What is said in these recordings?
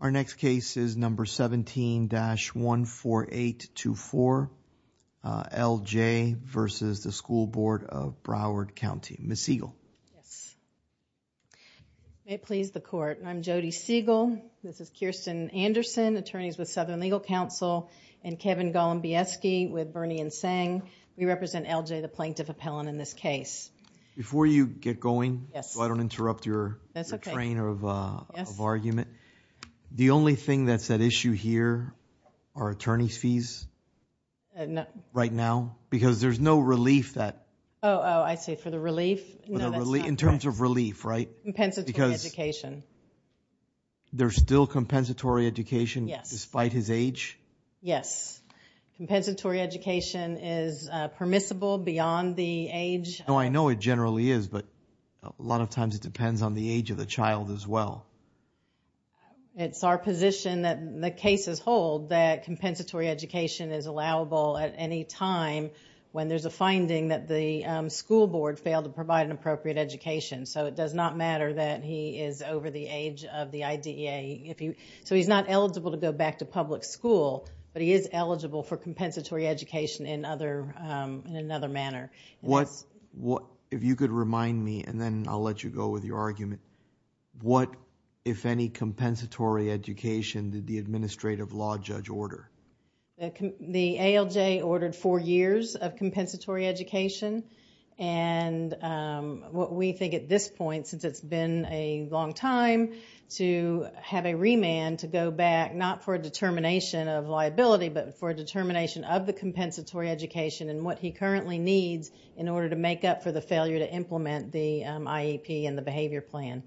Our next case is number 17-14824 L.J. v. School Board of Broward County. Ms. Siegel. Ms. Siegel. Yes. May it please the court, I'm Jody Siegel. This is Kirsten Anderson, attorneys with Southern Legal Counsel and Kevin Golombieski with Bernie and Tseng. We represent L.J., the plaintiff appellant in this case. Before you get going, so I don't interrupt your train of argument, the only thing that's at issue here are attorney's fees right now because there's no relief that... Oh, I see. For the relief? No, that's not correct. In terms of relief, right? Compensatory education. Because there's still compensatory education despite his age? Yes. Compensatory education is permissible beyond the age... No, I know it generally is, but a lot of times it depends on the age of the child as well. It's our position that the cases hold that compensatory education is allowable at any when there's a finding that the school board failed to provide an appropriate education. So it does not matter that he is over the age of the IDEA. So he's not eligible to go back to public school, but he is eligible for compensatory education in another manner. If you could remind me and then I'll let you go with your argument, what, if any, compensatory education did the administrative law judge order? The ALJ ordered four years of compensatory education. What we think at this point, since it's been a long time, to have a remand to go back, not for a determination of liability, but for a determination of the compensatory education and what he currently needs in order to make up for the failure to implement the IEP and the behavior plan.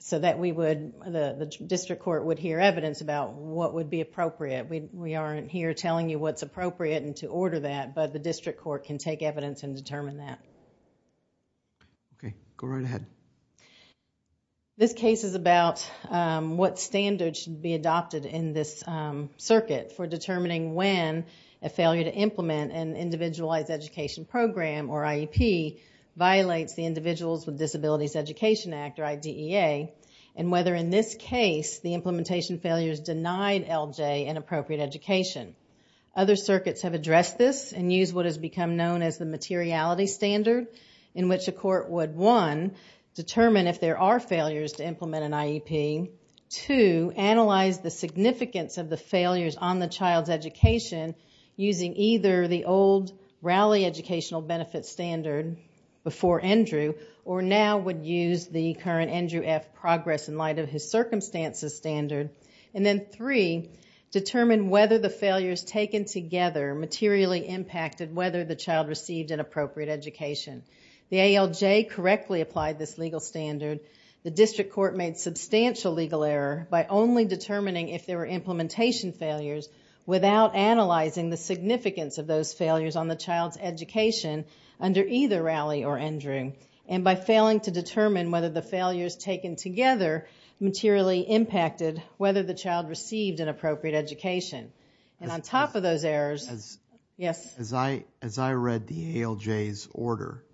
So that we would, the district court would hear evidence about what would be appropriate. We aren't here telling you what's appropriate and to order that, but the district court can take evidence and determine that. Okay. Go right ahead. This case is about what standards should be adopted in this circuit for determining when a failure to implement an individualized education program or the Individuals with Disabilities Education Act, or IDEA, and whether in this case the implementation failures denied LJ an appropriate education. Other circuits have addressed this and used what has become known as the materiality standard in which a court would, one, determine if there are failures to implement an IEP, two, analyze the significance of the failures on the child's education using either the old Raleigh Educational Benefit Standard before Andrew or now would use the current Andrew F. Progress in Light of His Circumstances Standard, and then three, determine whether the failures taken together materially impacted whether the child received an appropriate education. The ALJ correctly applied this legal standard. The district court made substantial legal error by only determining if there were implementation failures without analyzing the significance of those education under either Raleigh or Andrew, and by failing to determine whether the failures taken together materially impacted whether the child received an appropriate education. On top of those errors... Yes? As I read the ALJ's order,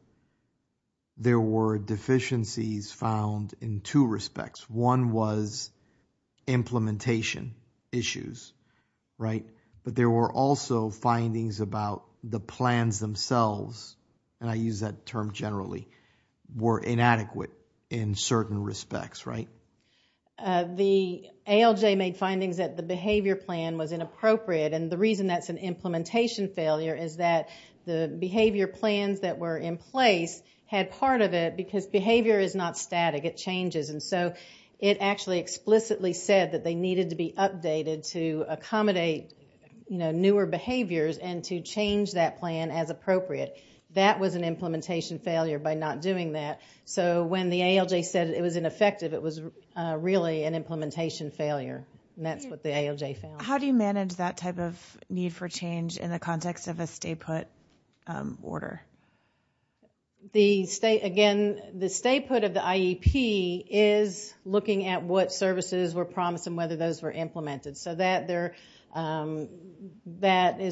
there were deficiencies found in two respects. One was implementation issues, but there were also findings about the plans themselves, and I use that term generally, were inadequate in certain respects, right? The ALJ made findings that the behavior plan was inappropriate, and the reason that's an implementation failure is that the behavior plans that were in place had part of it because behavior is not static, it changes, and so it actually explicitly said that they needed to be updated to accommodate newer behaviors and to change that plan as appropriate. That was an implementation failure by not doing that. So when the ALJ said it was ineffective, it was really an implementation failure, and that's what the ALJ found. How do you manage that type of need for change in the context of a stay-put order? The stay-put of the IEP is looking at what services were promised and whether those were implemented. So that is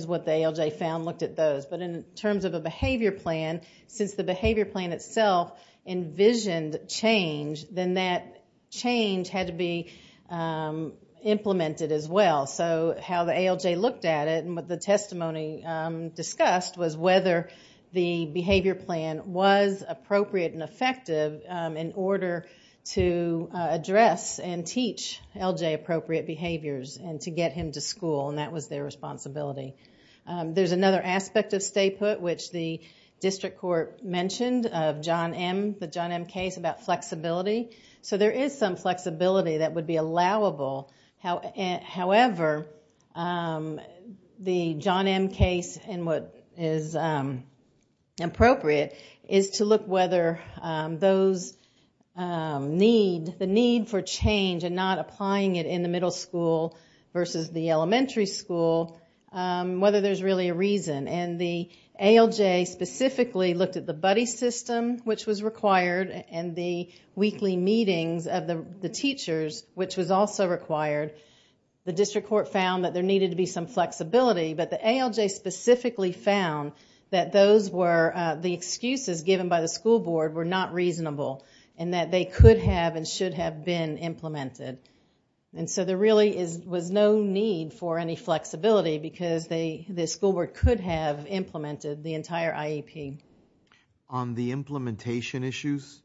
what the ALJ found, looked at those. But in terms of a behavior plan, since the behavior plan itself envisioned change, then that change had to be implemented as well. So how the ALJ looked at it and what the testimony discussed was whether the behavior plan was appropriate and effective in order to address and teach ALJ appropriate behaviors and to get him to school, and that was their responsibility. There is another aspect of stay-put which the district court mentioned of John M., the John M. case about flexibility. So there is some flexibility that would be allowable, however, the John M. case and what is appropriate is to look whether those need, the need for change and not applying it in the middle school versus the elementary school, whether there is really a reason. And the ALJ specifically looked at the buddy system which was required and the weekly meetings of the teachers which was also required. The district court found that there needed to be some flexibility, but the ALJ specifically found that those were, the excuses given by the school board were not reasonable and that they could have and should have been implemented. And so, there really was no need for any flexibility because the school board could have implemented the entire IEP. On the implementation issues,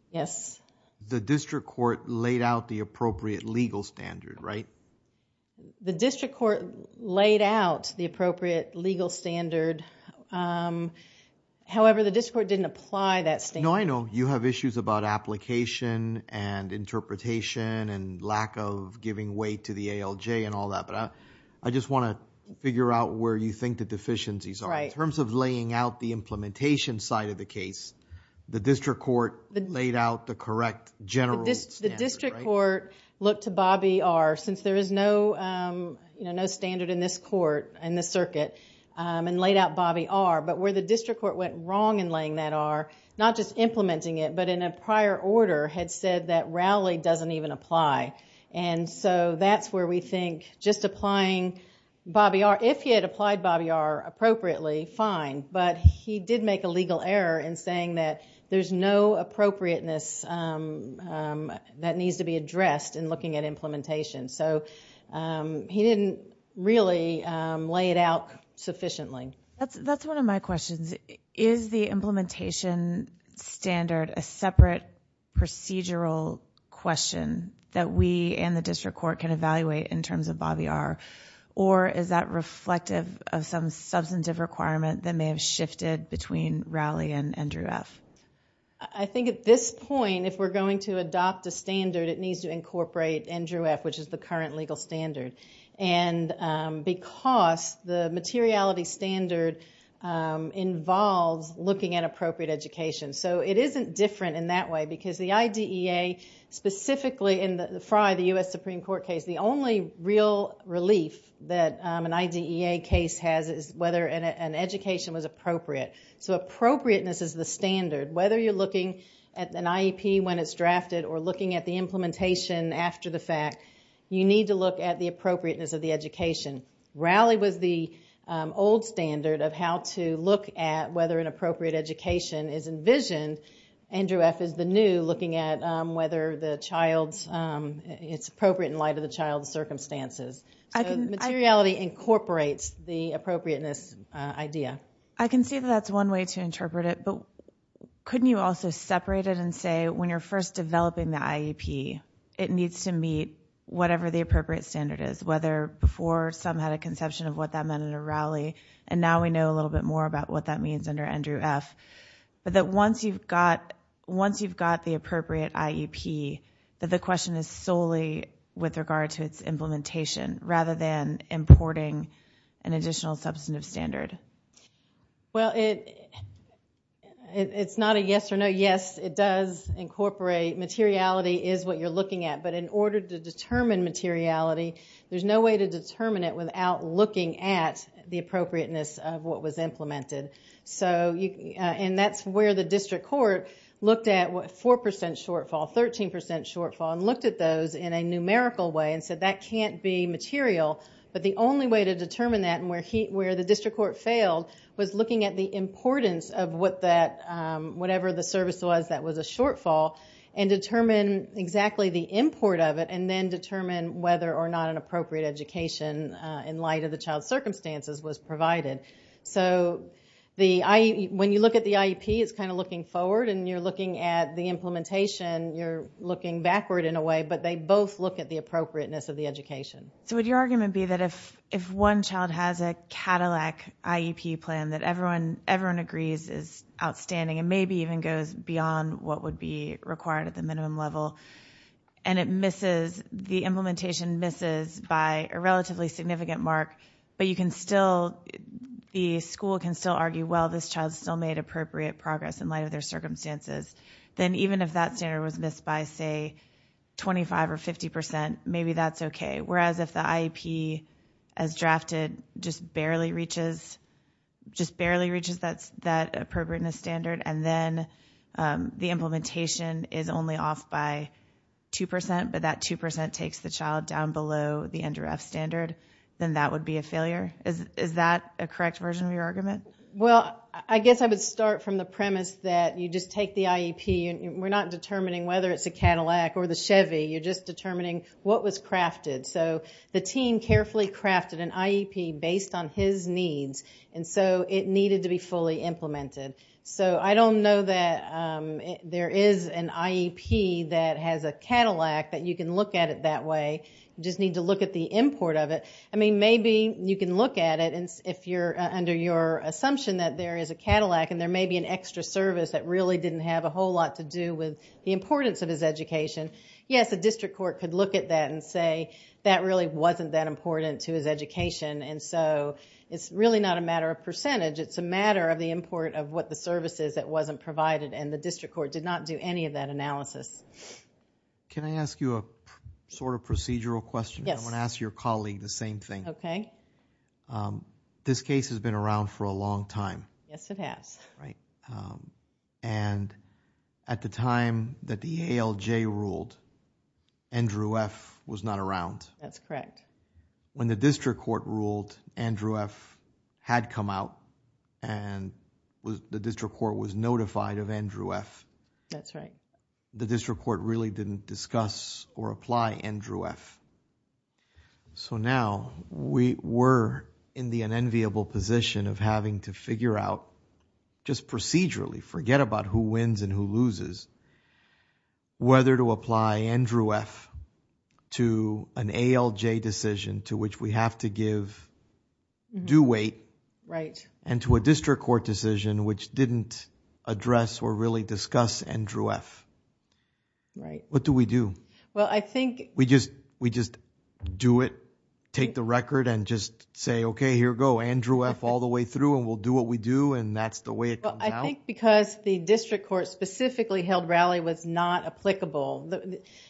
the district court laid out the appropriate legal standard, right? The district court laid out the appropriate legal standard, however, the district court didn't apply that standard. I know you have issues about application and interpretation and lack of giving way to the ALJ and all that, but I just want to figure out where you think the deficiencies are in terms of laying out the implementation side of the case. The district court laid out the correct general standard, right? The district court looked to Bobby R. since there is no standard in this court, in this circuit, and laid out Bobby R., but where the district court went wrong in laying that R., not just implementing it, but in a prior order, had said that Rowley doesn't even apply. And so, that's where we think just applying Bobby R., if he had applied Bobby R. appropriately, fine, but he did make a legal error in saying that there's no appropriateness that needs to be addressed in looking at implementation. So, he didn't really lay it out sufficiently. That's one of my questions. Is the implementation standard a separate procedural question that we and the district court can evaluate in terms of Bobby R.? Or is that reflective of some substantive requirement that may have shifted between Rowley and Andrew F.? I think at this point, if we're going to adopt a standard, it needs to incorporate Andrew F., which is the current legal standard. And because the materiality standard involves looking at appropriate education. So, it isn't different in that way, because the IDEA, specifically, in the F.R.I., the U.S. Supreme Court case, the only real relief that an IDEA case has is whether an education was appropriate. So appropriateness is the standard. Whether you're looking at an IEP when it's drafted or looking at the appropriateness of the education. Rowley was the old standard of how to look at whether an appropriate education is envisioned. Andrew F. is the new looking at whether the child's, it's appropriate in light of the child's circumstances. Materiality incorporates the appropriateness idea. I can see that that's one way to interpret it, but couldn't you also separate it and say when you're first developing the IEP, it needs to meet whatever the appropriate standard is. Whether before some had a conception of what that meant under Rowley, and now we know a little bit more about what that means under Andrew F. But that once you've got the appropriate IEP, that the question is solely with regard to its implementation, rather than importing an additional substantive standard. Well, it's not a yes or no. Yes, it does incorporate, materiality is what you're looking at. But in order to determine materiality, there's no way to determine it without looking at the appropriateness of what was implemented. And that's where the district court looked at 4% shortfall, 13% shortfall, and looked at those in a numerical way and said that can't be material. But the only way to determine that and where the district court failed was looking at the importance of whatever the service was that was a shortfall, and determine exactly the import of it, and then determine whether or not an appropriate education in light of the child's circumstances was provided. So when you look at the IEP, it's kind of looking forward, and you're looking at the implementation, you're looking backward in a way. But they both look at the appropriateness of the education. So would your argument be that if one child has a Cadillac IEP plan that everyone agrees is outstanding, and maybe even goes beyond what would be required at the minimum level, and it misses, the implementation misses by a relatively significant mark, but you can still, the school can still argue, well, this child's still made appropriate progress in light of their circumstances. Then even if that standard was missed by, say, 25 or 50%, maybe that's okay. Whereas if the IEP, as drafted, just barely reaches, just barely reaches that appropriateness standard, and then the implementation is only off by 2%, but that 2% takes the child down below the under F standard, then that would be a failure? Is that a correct version of your argument? Well, I guess I would start from the premise that you just take the IEP, we're not determining whether it's a Cadillac or the Chevy, you're just determining what was crafted. So the team carefully crafted an IEP based on his needs, and so it needed to be fully implemented. So I don't know that there is an IEP that has a Cadillac that you can look at it that way, you just need to look at the import of it. I mean, maybe you can look at it, and if you're under your assumption that there is a Cadillac, and there may be an extra service that really didn't have a whole lot to do with the importance of his education, yes, a district court could look at that and say that really wasn't that important to his education, and so it's really not a matter of percentage. It's a matter of the import of what the service is that wasn't provided, and the district court did not do any of that analysis. Can I ask you a sort of procedural question? Yes. I want to ask your colleague the same thing. Okay. This case has been around for a long time. Yes, it has. And at the time that the ALJ ruled, Andrew F. was not around. That's correct. When the district court ruled, Andrew F. had come out, and the district court was notified of Andrew F. That's right. The district court really didn't discuss or apply Andrew F. So now, we were in the unenviable position of having to figure out just procedurally, forget about who wins and who loses, whether to apply Andrew F. to an ALJ decision to which we have to give due weight and to a district court decision which didn't address or really discuss Andrew F. Right. What do we do? Well, I think... We just do it, take the record, and just say, okay, here we go, Andrew F. all the way through, and we'll do what we do, and that's the way it comes out? Well, I think because the district court specifically held Rowley was not applicable,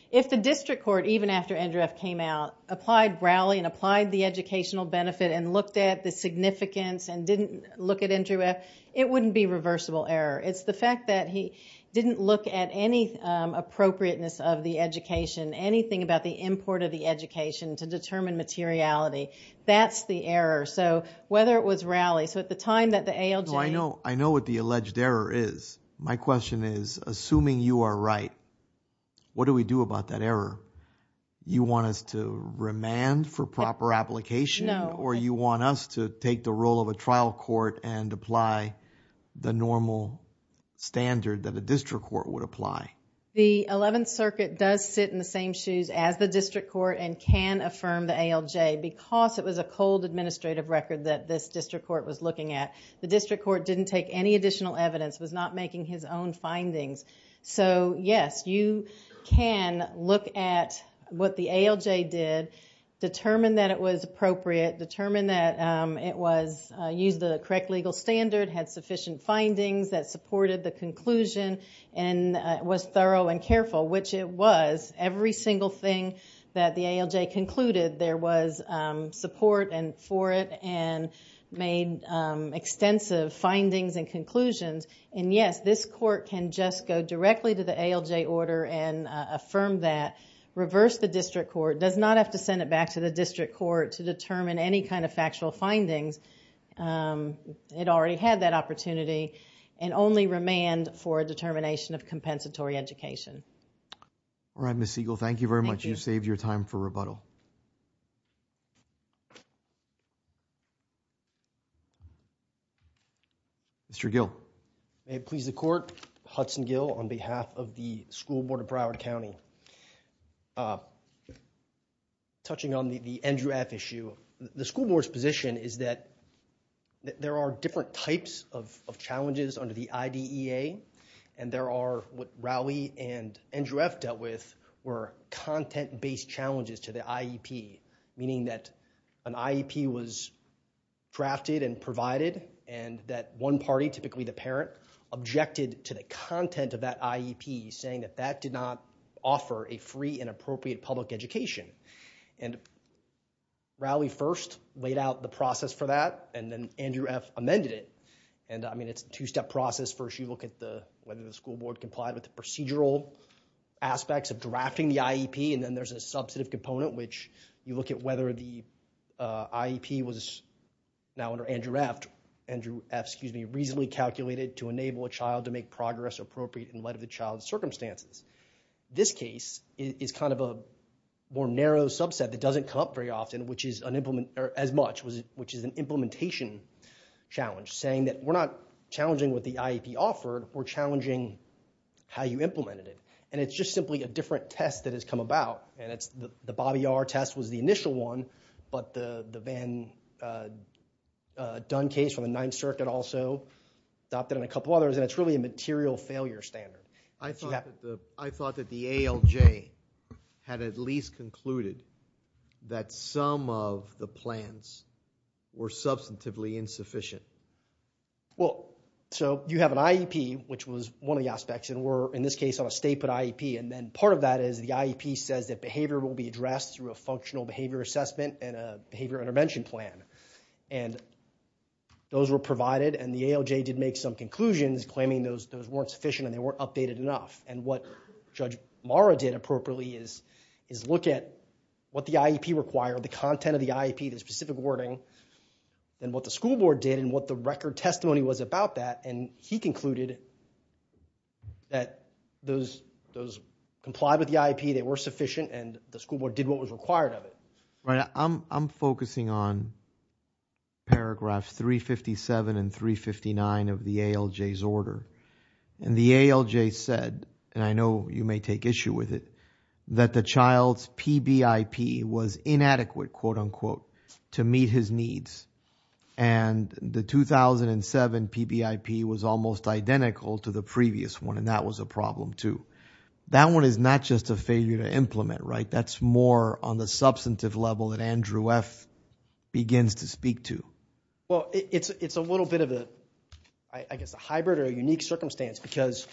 if the district court, even after Andrew F. came out, applied Rowley and applied the educational benefit and looked at the significance and didn't look at Andrew F., it wouldn't be reversible error. It's the fact that he didn't look at any appropriateness of the education, anything about the import of the education to determine materiality. That's the error. So whether it was Rowley, so at the time that the ALJ... No, I know what the alleged error is. My question is, assuming you are right, what do we do about that error? You want us to remand for proper application or you want us to take the role of a trial court and apply the normal standard that a district court would apply? The Eleventh Circuit does sit in the same shoes as the district court and can affirm the ALJ because it was a cold administrative record that this district court was looking at. The district court didn't take any additional evidence, was not making his own findings. So yes, you can look at what the ALJ did, determine that it was appropriate, determine that it used the correct legal standard, had sufficient findings that supported the conclusion and was thorough and careful, which it was. Every single thing that the ALJ concluded, there was support for it and made extensive findings and conclusions and yes, this court can just go directly to the ALJ order and affirm that, reverse the district court, does not have to send it back to the district court to determine any kind of factual findings. It already had that opportunity and only remand for determination of compensatory education. All right, Ms. Siegel, thank you very much. You saved your time for rebuttal. Mr. Gill. May it please the court, Hudson Gill on behalf of the School Board of Broward County. Touching on the Andrew F. issue, the school board's position is that there are different types of challenges under the IDEA and there are what Rowley and Andrew F. dealt with were content-based challenges to the IEP, meaning that an IEP was drafted and provided and that one party, typically the parent, objected to the content of that IEP, saying that that did not offer a free and appropriate public education and Rowley first laid out the process for that and then Andrew F. amended it and, I mean, it's a two-step process. First, you look at whether the school board complied with the procedural aspects of drafting the IEP and then there's a substantive component, which you look at whether the IEP was, now under Andrew F., reasonably calculated to enable a child to make progress appropriate in light of the child's circumstances. This case is kind of a more narrow subset that doesn't come up very often, as much, which is an implementation challenge, saying that we're not challenging what the IEP offered, we're challenging how you implemented it and it's just simply a different test that has come about and the Bobby R. test was the initial one, but the Van Dunn case from the Ninth Circuit also adopted and a couple others and it's really a material failure standard. I thought that the ALJ had at least concluded that some of the plans were substantively insufficient. Well, so you have an IEP, which was one of the aspects, and we're, in this case, on a state put IEP and then part of that is the IEP says that behavior will be addressed through a functional behavior assessment and a behavior intervention plan and those were provided and the ALJ did make some enough and what Judge Marra did appropriately is look at what the IEP required, the content of the IEP, the specific wording and what the school board did and what the record testimony was about that and he concluded that those complied with the IEP, they were sufficient and the school board did what was required of it. I'm focusing on paragraphs 357 and 359 of the ALJ's order and the ALJ said, and I know you may take issue with it, that the child's PBIP was inadequate, quote unquote, to meet his needs and the 2007 PBIP was almost identical to the previous one and that was a problem too. That one is not just a failure to implement, right? That's more on the substantive level that Andrew F. begins to speak to. Well, it's a little bit of a, I guess, a hybrid or a unique circumstance because,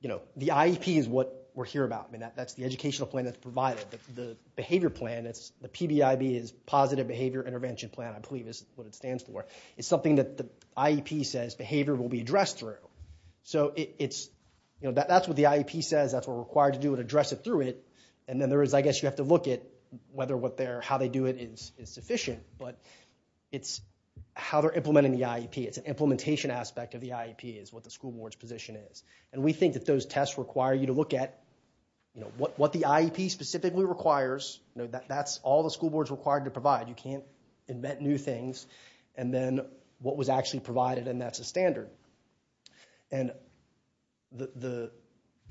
you know, the IEP is what we're here about and that's the educational plan that's provided, the behavior plan, the PBIP is positive behavior intervention plan, I believe is what it stands for. It's something that the IEP says behavior will be addressed through. So it's, you know, that's what the IEP says, that's what we're required to do and address it through it and then there is, I guess, you have to look at whether what they're, how they do it is sufficient but it's how they're implementing the IEP, it's an implementation aspect of the IEP is what the school board's position is and we think that those tests require you to look at, you know, what the IEP specifically requires, you know, that's all the school board's required to provide. You can't invent new things and then what was actually provided and that's a standard. And the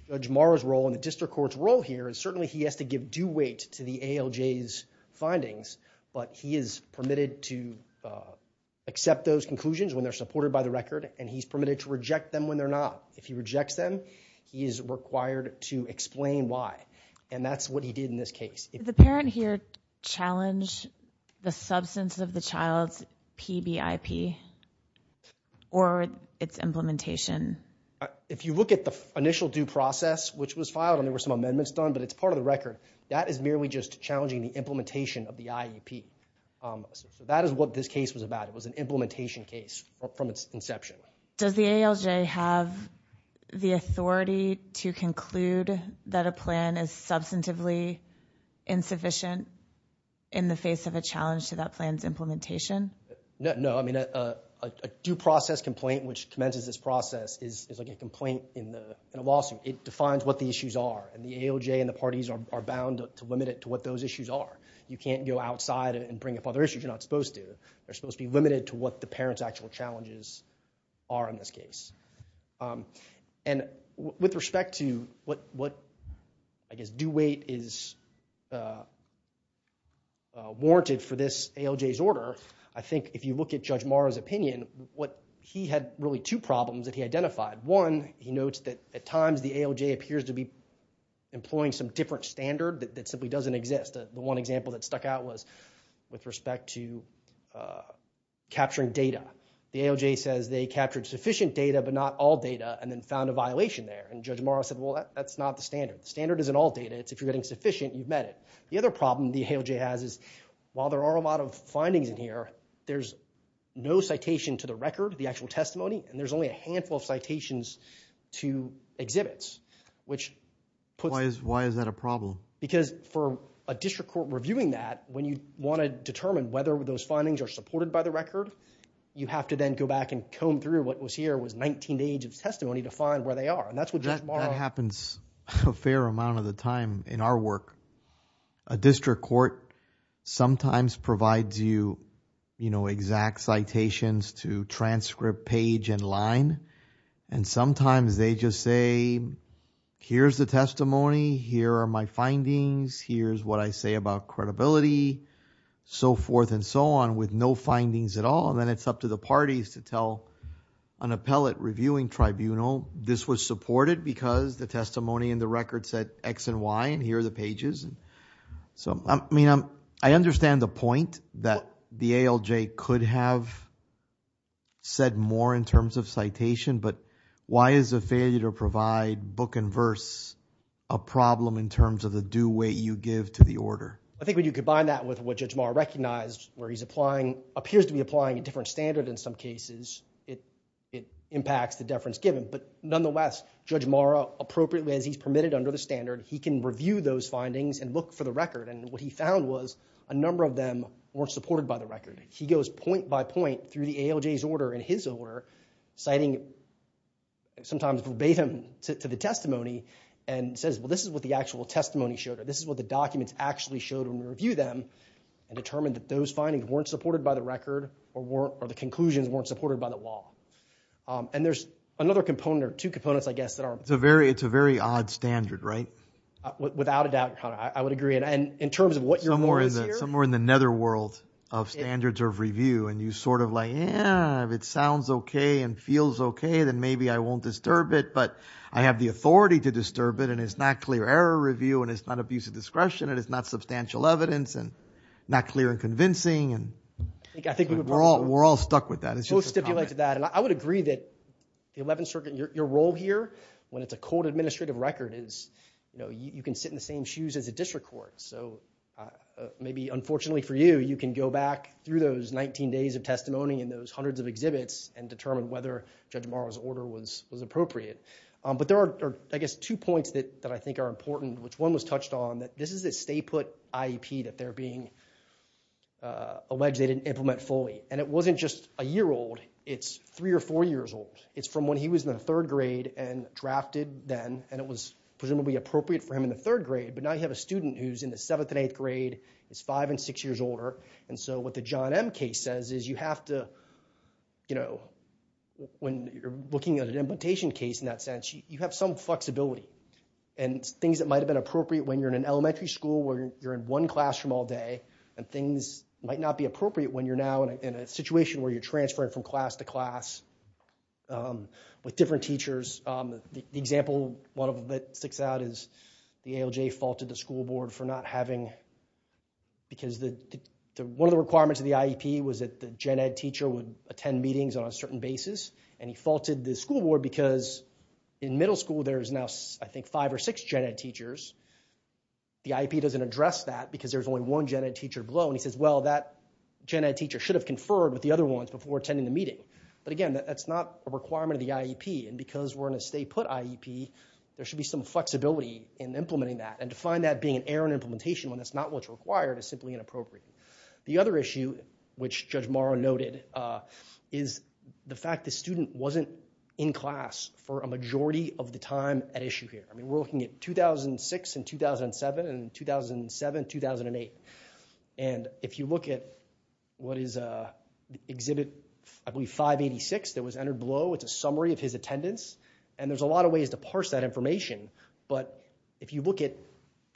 Judge Morrow's role and the district court's role here is certainly he has to give due weight to the ALJ's findings but he is permitted to accept those conclusions when they're supported by the record and he's permitted to not. If he rejects them, he is required to explain why and that's what he did in this case. The parent here challenged the substance of the child's PBIP or its implementation? If you look at the initial due process which was filed and there were some amendments done but it's part of the record, that is merely just challenging the implementation of the IEP. That is what this case was about. It was an implementation case from its inception. Does the ALJ have the authority to conclude that a plan is substantively insufficient in the face of a challenge to that plan's implementation? No, I mean a due process complaint which commences this process is like a complaint in a lawsuit. It defines what the issues are and the ALJ and the parties are bound to limit it to what those issues are. You can't go outside and bring up other issues you're not supposed to. They're supposed to be limited to what the parent's actual challenges are in this case. With respect to what I guess due weight is warranted for this ALJ's order, I think if you look at Judge Morrow's opinion, he had really two problems that he identified. One, he notes that at times the ALJ appears to be employing some different standard that simply doesn't exist. The one example that stuck out was with respect to capturing data. The ALJ says they captured sufficient data but not all data and then found a violation there and Judge Morrow said, well that's not the standard. Standard isn't all data. It's if you're getting sufficient, you've met it. The other problem the ALJ has is while there are a lot of findings in here, there's no citation to the record, the actual testimony, and there's only a handful of citations to exhibits. Why is that a problem? Because for a district court reviewing that, when you want to determine whether those findings are supported by the record, you have to then go back and comb through what was here was 19 days of testimony to find where they are and that's what Judge Morrow... That happens a fair amount of the time in our work. A district court sometimes provides you exact citations to transcript page and line and sometimes they just say, here's the testimony, here are my findings, here's what I say about credibility, so forth and so on with no findings at all and then it's up to the parties to tell an appellate reviewing tribunal this was supported because the testimony in the record said X and Y and here are the pages. I mean, I understand the point that the ALJ could have said more in terms of citation but why is a failure to provide book and verse a problem in terms of the due weight you give to the order? I think when you combine that with what Judge Morrow recognized where he's applying... appears to be applying a different standard in some cases, it impacts the deference given but nonetheless Judge Morrow appropriately as he's permitted under the standard, he can review those findings and look for the record and what he found was a number of them weren't supported by the record. He goes point by point through the ALJ's order and his order citing sometimes verbatim to the testimony and says, well, this is what the actual testimony showed or this is what the documents actually showed when we review them and determined that those findings weren't supported by the record or the conclusions weren't supported by the law. And there's another component or two components, I guess, that are... Without a doubt, I would agree and in terms of what you're... Somewhere in the netherworld of standards of review and you sort of like, yeah, if it sounds okay and feels okay, then maybe I won't disturb it but I have the authority to disturb it and it's not clear error review and it's not abuse of discretion and it's not substantial evidence and not clear and convincing and... I think we would... We're all stuck with that. It's just a... We'll stipulate to that and I would agree that the Eleventh Circuit, your role here when it's a court administrative record is, you know, you can sit in the same shoes as a district court so maybe, unfortunately for you, you can go back through those 19 days of testimony and those hundreds of exhibits and determine whether Judge Morrow's order was appropriate. But there are, I guess, two points that I think are important, which one was touched on that this is a state put IEP that they're being alleged they didn't implement fully and it wasn't just a year old. It's three or four years old. It's from when he was in the third grade and drafted then and it was presumably appropriate for him in the third grade but now you have a student who's in the seventh and eighth grade is five and six years older and so what the John M case says is you have to, you know, when you're looking at an implementation case in that sense, you have some flexibility and things that might have been appropriate when you're in an elementary school where you're in one classroom all day and things might not be appropriate when you're now in a situation where you're transferring from class to class with different teachers. The example, one of them that sticks out is the ALJ faulted the school board for not having because one of the requirements of the IEP was that the gen ed teacher would attend meetings on a certain basis and he faulted the school board because in middle school there's now, I think, five or six gen ed teachers. The IEP doesn't address that because there's only one gen ed teacher below and he says, well, that gen ed teacher should have conferred with the other ones before attending the meeting but again, that's not a requirement of the IEP and because we're in a state put IEP, there should be some flexibility in implementing that and to find that being an error in implementation when it's not what's required is simply inappropriate. The other issue, which Judge Morrow noted, is the fact the student wasn't in class for a majority of the time at issue here. We're looking at 2006 and 2007 and 2007-2008 and if you look at what is exhibit 586 that was entered below, it's a summary of his attendance and there's a lot of ways to parse that information but if you look at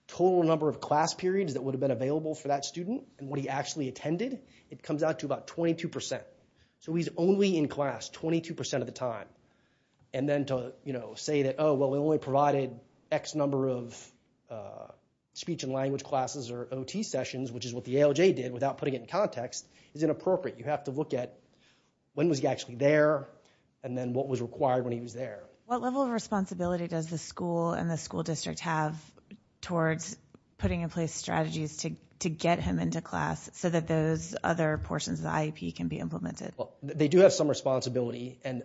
total number of class periods that would have been available for that student and what he actually attended, it comes out to about 22 percent so he's only in class 22 percent of the time and then to say that, oh, well, we only provided X number of speech and language classes or OT sessions, which is what the ALJ did without putting it in context is inappropriate. You have to look at when was he actually there and then what was required when he was there. What level of responsibility does the school and the school district have towards putting in place strategies to get him into class so that those other portions of the IEP can be implemented? Well, they do have some responsibility and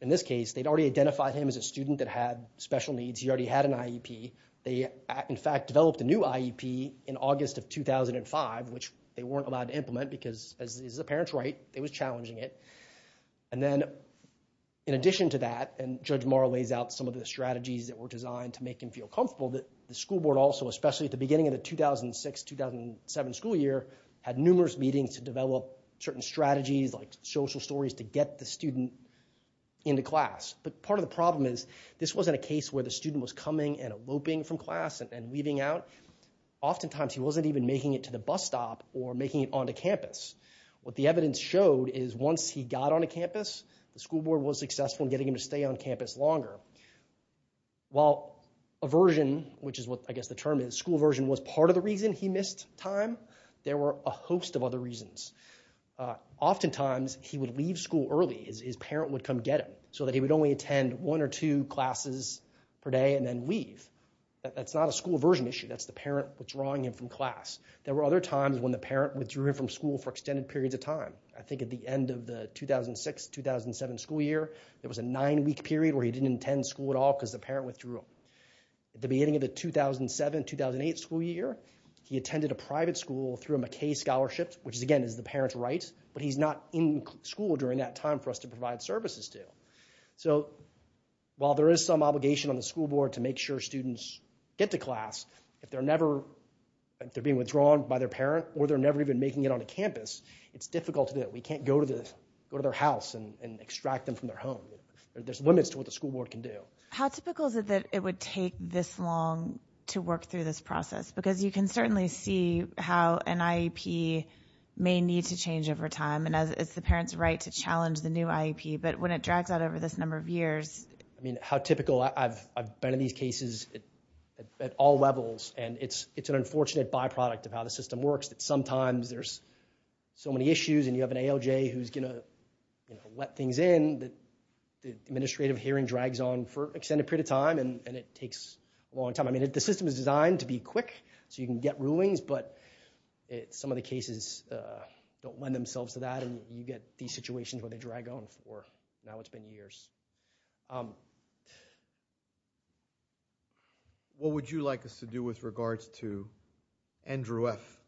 in this case, they'd already identified him as a student that had special needs. He already had an IEP. They, in fact, developed a new IEP in August of 2005, which they weren't allowed to implement because as the parents write, it was challenging it and then in addition to that and Judge Morrow lays out some of the strategies that were designed to make him feel comfortable that the school board also, especially at the beginning of the 2006-2007 school year, had numerous meetings to develop certain strategies like social stories to get the student into class. But part of the problem is this wasn't a case where the student was coming and eloping from class and leaving out. Oftentimes he wasn't even making it to the bus stop or making it onto campus. What the evidence showed is once he got onto campus, the school board was successful in getting him to stay on campus longer. While aversion, which is what I guess the term is, school aversion was part of the reason he missed time, there were a host of other reasons. Oftentimes he would leave school early as his parent would come get him so that he would only attend one or two classes per day and then leave. That's not a school aversion issue. That's the parent withdrawing him from class. There were other times when the parent withdrew him from school for extended periods of time. I think at the end of the 2006-2007 school year, there was a nine-week period where he didn't attend school at all because the parent withdrew him. At the beginning of the 2007-2008 school year, he attended a private school through a McKay scholarship, which again is the parent's right, but he's not in school during that time for us to provide services to. While there is some obligation on the school board to make sure students get to class, if they're being withdrawn by their parent or they're never even making it onto campus, it's difficult to do. We can't go to their house and extract them from their home. There's limits to what the school board can do. How typical is it that it would take this long to work through this process? Because you can certainly see how an IEP may need to change over time, and it's the parent's right to challenge the new IEP, but when it drags out over this number of years. How typical. I've been in these cases at all levels, and it's an unfortunate byproduct of how the system works that sometimes there's so many issues and you have an ALJ who's going to let things in that the administrative hearing drags on for an extended period of time, and it takes a long time. I mean, the system is designed to be quick, so you can get rulings, but some of the cases don't lend themselves to that, and you get these situations where they drag on for, now it's been years. What would you like us to do with regards to Andrew F.,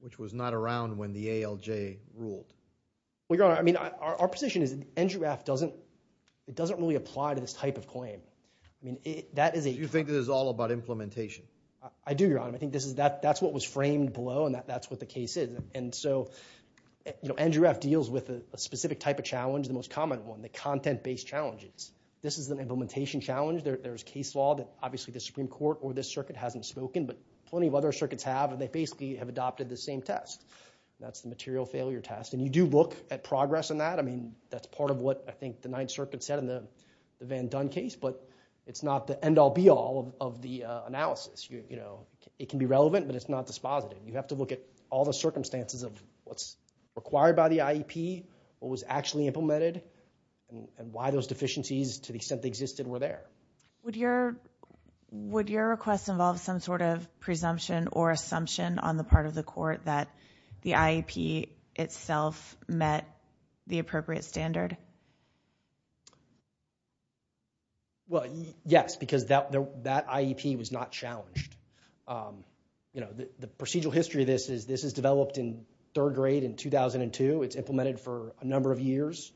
which was not around when the ALJ ruled? Well, Your Honor, I mean, our position is Andrew F. doesn't really apply to this type of claim. I mean, that is a... So you think this is all about implementation? I do, Your Honor. I think that's what was framed below, and that's what the case is, and so Andrew F. deals with a specific type of challenge, the most common one, the content-based challenges. This is an implementation challenge. There's case law that obviously the Supreme Court or this circuit hasn't spoken, but plenty of other circuits have, and they basically have adopted the same test. That's the material failure test, and you do look at progress in that. I mean, that's part of what I think the Ninth Circuit said in the Van Dunn case, but it's not the end-all, be-all of the analysis. It can be relevant, but it's not dispositive. You have to look at all the circumstances of what's required by the IEP, what was actually implemented, and why those deficiencies, to the extent they existed, were there. Would your request involve some sort of presumption or assumption on the part of the court that the IEP itself met the appropriate standard? Well, yes, because that IEP was not challenged. You know, the procedural history of this is this is developed in third grade in 2002. It's implemented for a number of years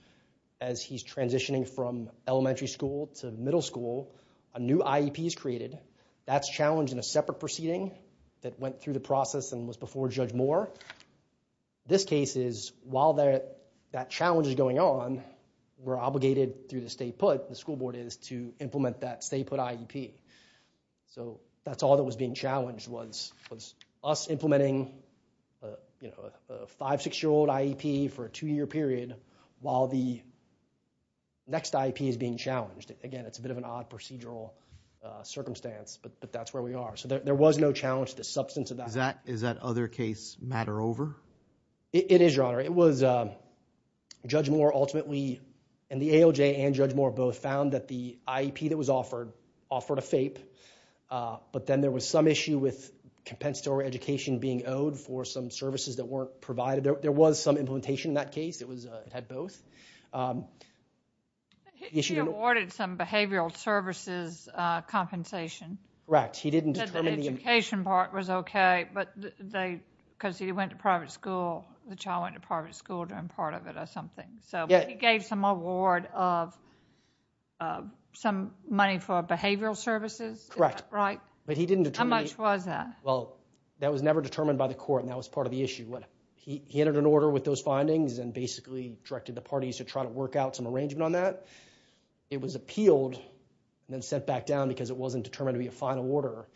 as he's transitioning from elementary school to middle school. A new IEP is created. That's challenged in a separate proceeding that went through the process and was before Judge Moore. This case is, while that challenge is going on, we're obligated through the state put, the school board is, to implement that state put IEP. So that's all that was being challenged was us implementing, you know, a five-, six-year-old IEP for a two-year period while the next IEP is being challenged. Again, it's a bit of an odd procedural circumstance, but that's where we are. So there was no challenge to the substance of that. Does that other case matter over? It is, Your Honor. It was, Judge Moore ultimately, and the ALJ and Judge Moore both found that the IEP that was offered, offered a FAPE, but then there was some issue with compensatory education being owed for some services that weren't provided. There was some implementation in that case. It had both. He awarded some behavioral services compensation. Correct. He didn't determine the... The compensation part was okay, but they, because he went to private school, the child went to private school during part of it or something, so he gave some award of some money for behavioral services? Correct. Right? But he didn't determine... How much was that? Well, that was never determined by the court, and that was part of the issue. He entered an order with those findings and basically directed the parties to try to work out some arrangement on that. It was appealed and then sent back down because it wasn't determined to be a final order,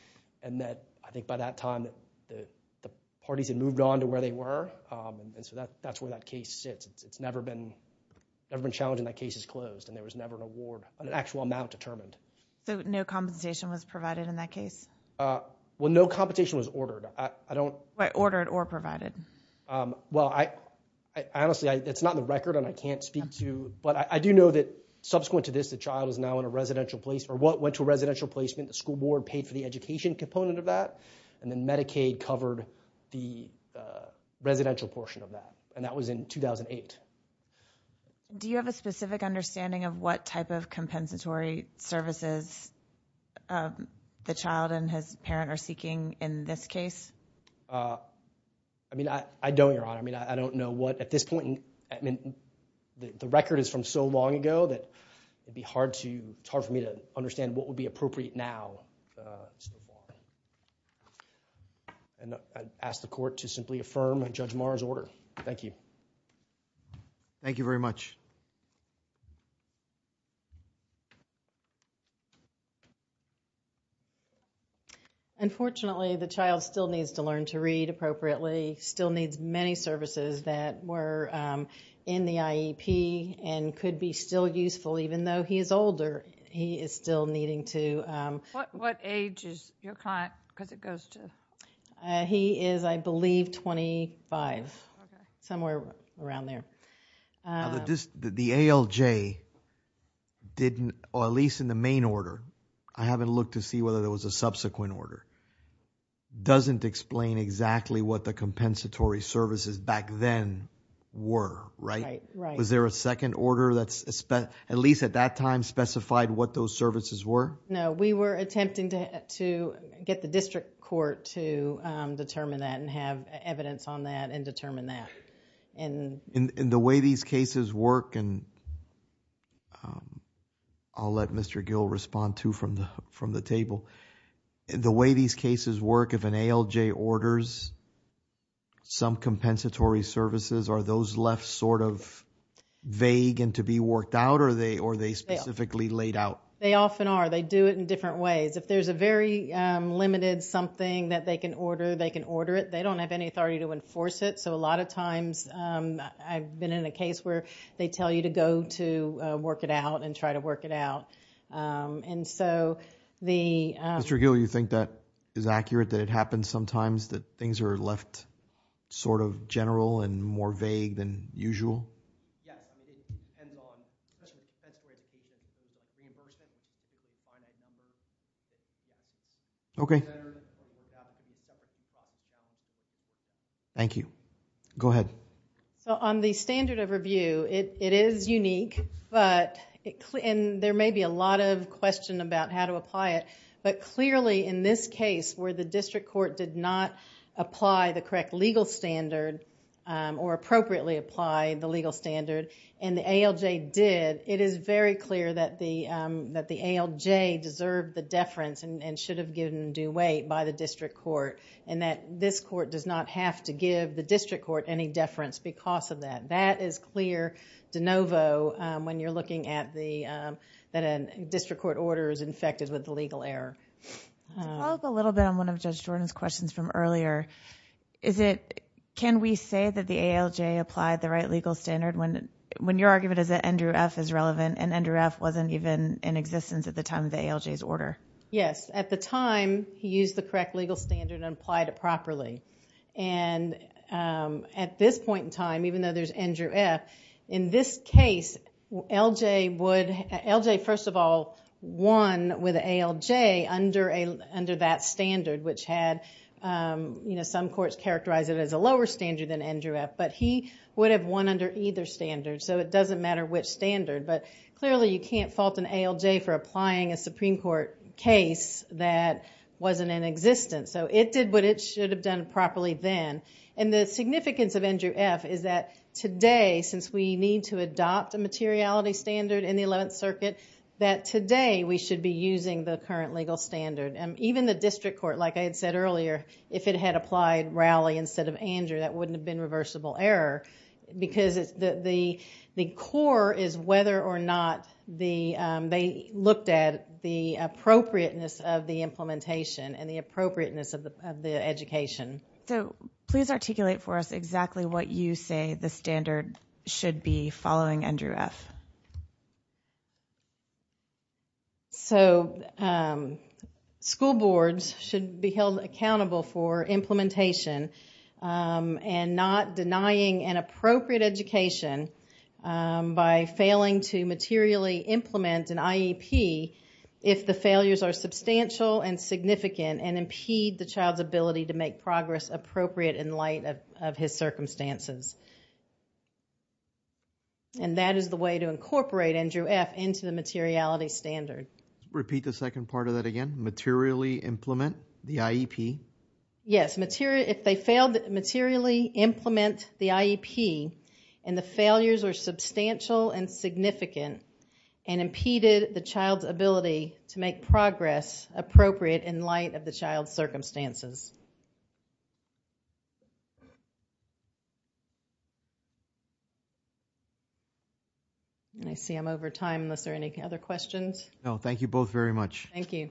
and that, I think by that time, the parties had moved on to where they were, and so that's where that case sits. It's never been challenged and that case is closed, and there was never an award, an actual amount determined. So, no compensation was provided in that case? Well, no compensation was ordered. I don't... Right. Ordered or provided. Well, I honestly, it's not in the record and I can't speak to... Okay. But I do know that subsequent to this, the child is now in a residential place, or went to a residential placement. The school board paid for the education component of that, and then Medicaid covered the residential portion of that, and that was in 2008. Do you have a specific understanding of what type of compensatory services the child and his parent are seeking in this case? I mean, I don't, Your Honor. I mean, I don't know what... at this point, I mean, the record is from so long ago that it would be hard for me to understand what would be appropriate now. And I ask the Court to simply affirm Judge Maher's order. Thank you. Thank you very much. Unfortunately, the child still needs to learn to read appropriately, still needs many services that were in the IEP and could be still useful even though he is older. He is still needing to... What age is your client, because it goes to... He is, I believe, twenty-five, somewhere around there. The ALJ didn't, at least in the main order, I haven't looked to see whether there was a subsequent order, doesn't explain exactly what the compensatory services back then were, right? Was there a second order that's, at least at that time, specified what those services were? No. We were attempting to get the district court to determine that and have evidence on that and determine that. In the way these cases work and I'll let Mr. Gill respond too from the table. The way these cases work, if an ALJ orders some compensatory services, are those left sort of vague and to be worked out or are they specifically laid out? They often are. They do it in different ways. If there's a very limited something that they can order, they can order it. They don't have any authority to enforce it. A lot of times, I've been in a case where they tell you to go to work it out and try to work it out. Mr. Gill, you think that is accurate, that it happens sometimes that things are left sort of general and more vague than usual? Yes. It depends on, especially compensatory services, the reimbursement is a finite number. Okay. If it's entered, it would have to be separate from the compensation. Thank you. Go ahead. On the standard of review, it is unique. There may be a lot of question about how to apply it, but clearly in this case where the district court did not apply the correct legal standard or appropriately apply the legal standard and the ALJ did, it is very clear that the ALJ deserved the deference and should have given due weight by the district court and that this court does not have to give the district court any deference because of that. That is clear de novo when you're looking at the, that a district court order is infected with the legal error. I'll go a little bit on one of Judge Jordan's questions from earlier. Is it, can we say that the ALJ applied the right legal standard when your argument is that Andrew F. is relevant and Andrew F. wasn't even in existence at the time of the ALJ's order? Yes. At the time, he used the correct legal standard and applied it properly. At this point in time, even though there's Andrew F., in this case, LJ would, LJ first of all won with ALJ under that standard which had, you know, some courts characterize it as a lower standard than Andrew F., but he would have won under either standard, so it doesn't matter which standard, but clearly you can't fault an ALJ for applying a Supreme Court case that wasn't in existence. So it did what it should have done properly then. And the significance of Andrew F. is that today, since we need to adopt a materiality standard in the 11th Circuit, that today we should be using the current legal standard. Even the district court, like I had said earlier, if it had applied Rowley instead of Andrew, that wouldn't have been reversible error because the core is whether or not the, they looked at the appropriateness of the implementation and the appropriateness of the education. So please articulate for us exactly what you say the standard should be following Andrew F. So school boards should be held accountable for implementation and not denying an appropriate education by failing to materially implement an IEP if the failures are substantial and significant and impede the child's ability to make progress appropriate in light of his circumstances. And that is the way to incorporate Andrew F. into the materiality standard. Repeat the second part of that again. Materially implement the IEP. Yes, if they failed to materially implement the IEP and the failures are substantial and significant and impeded the child's ability to make progress appropriate in light of the child's circumstances. I see I'm over time. Are there any other questions? No. Thank you both very much. Thank you. Thank you.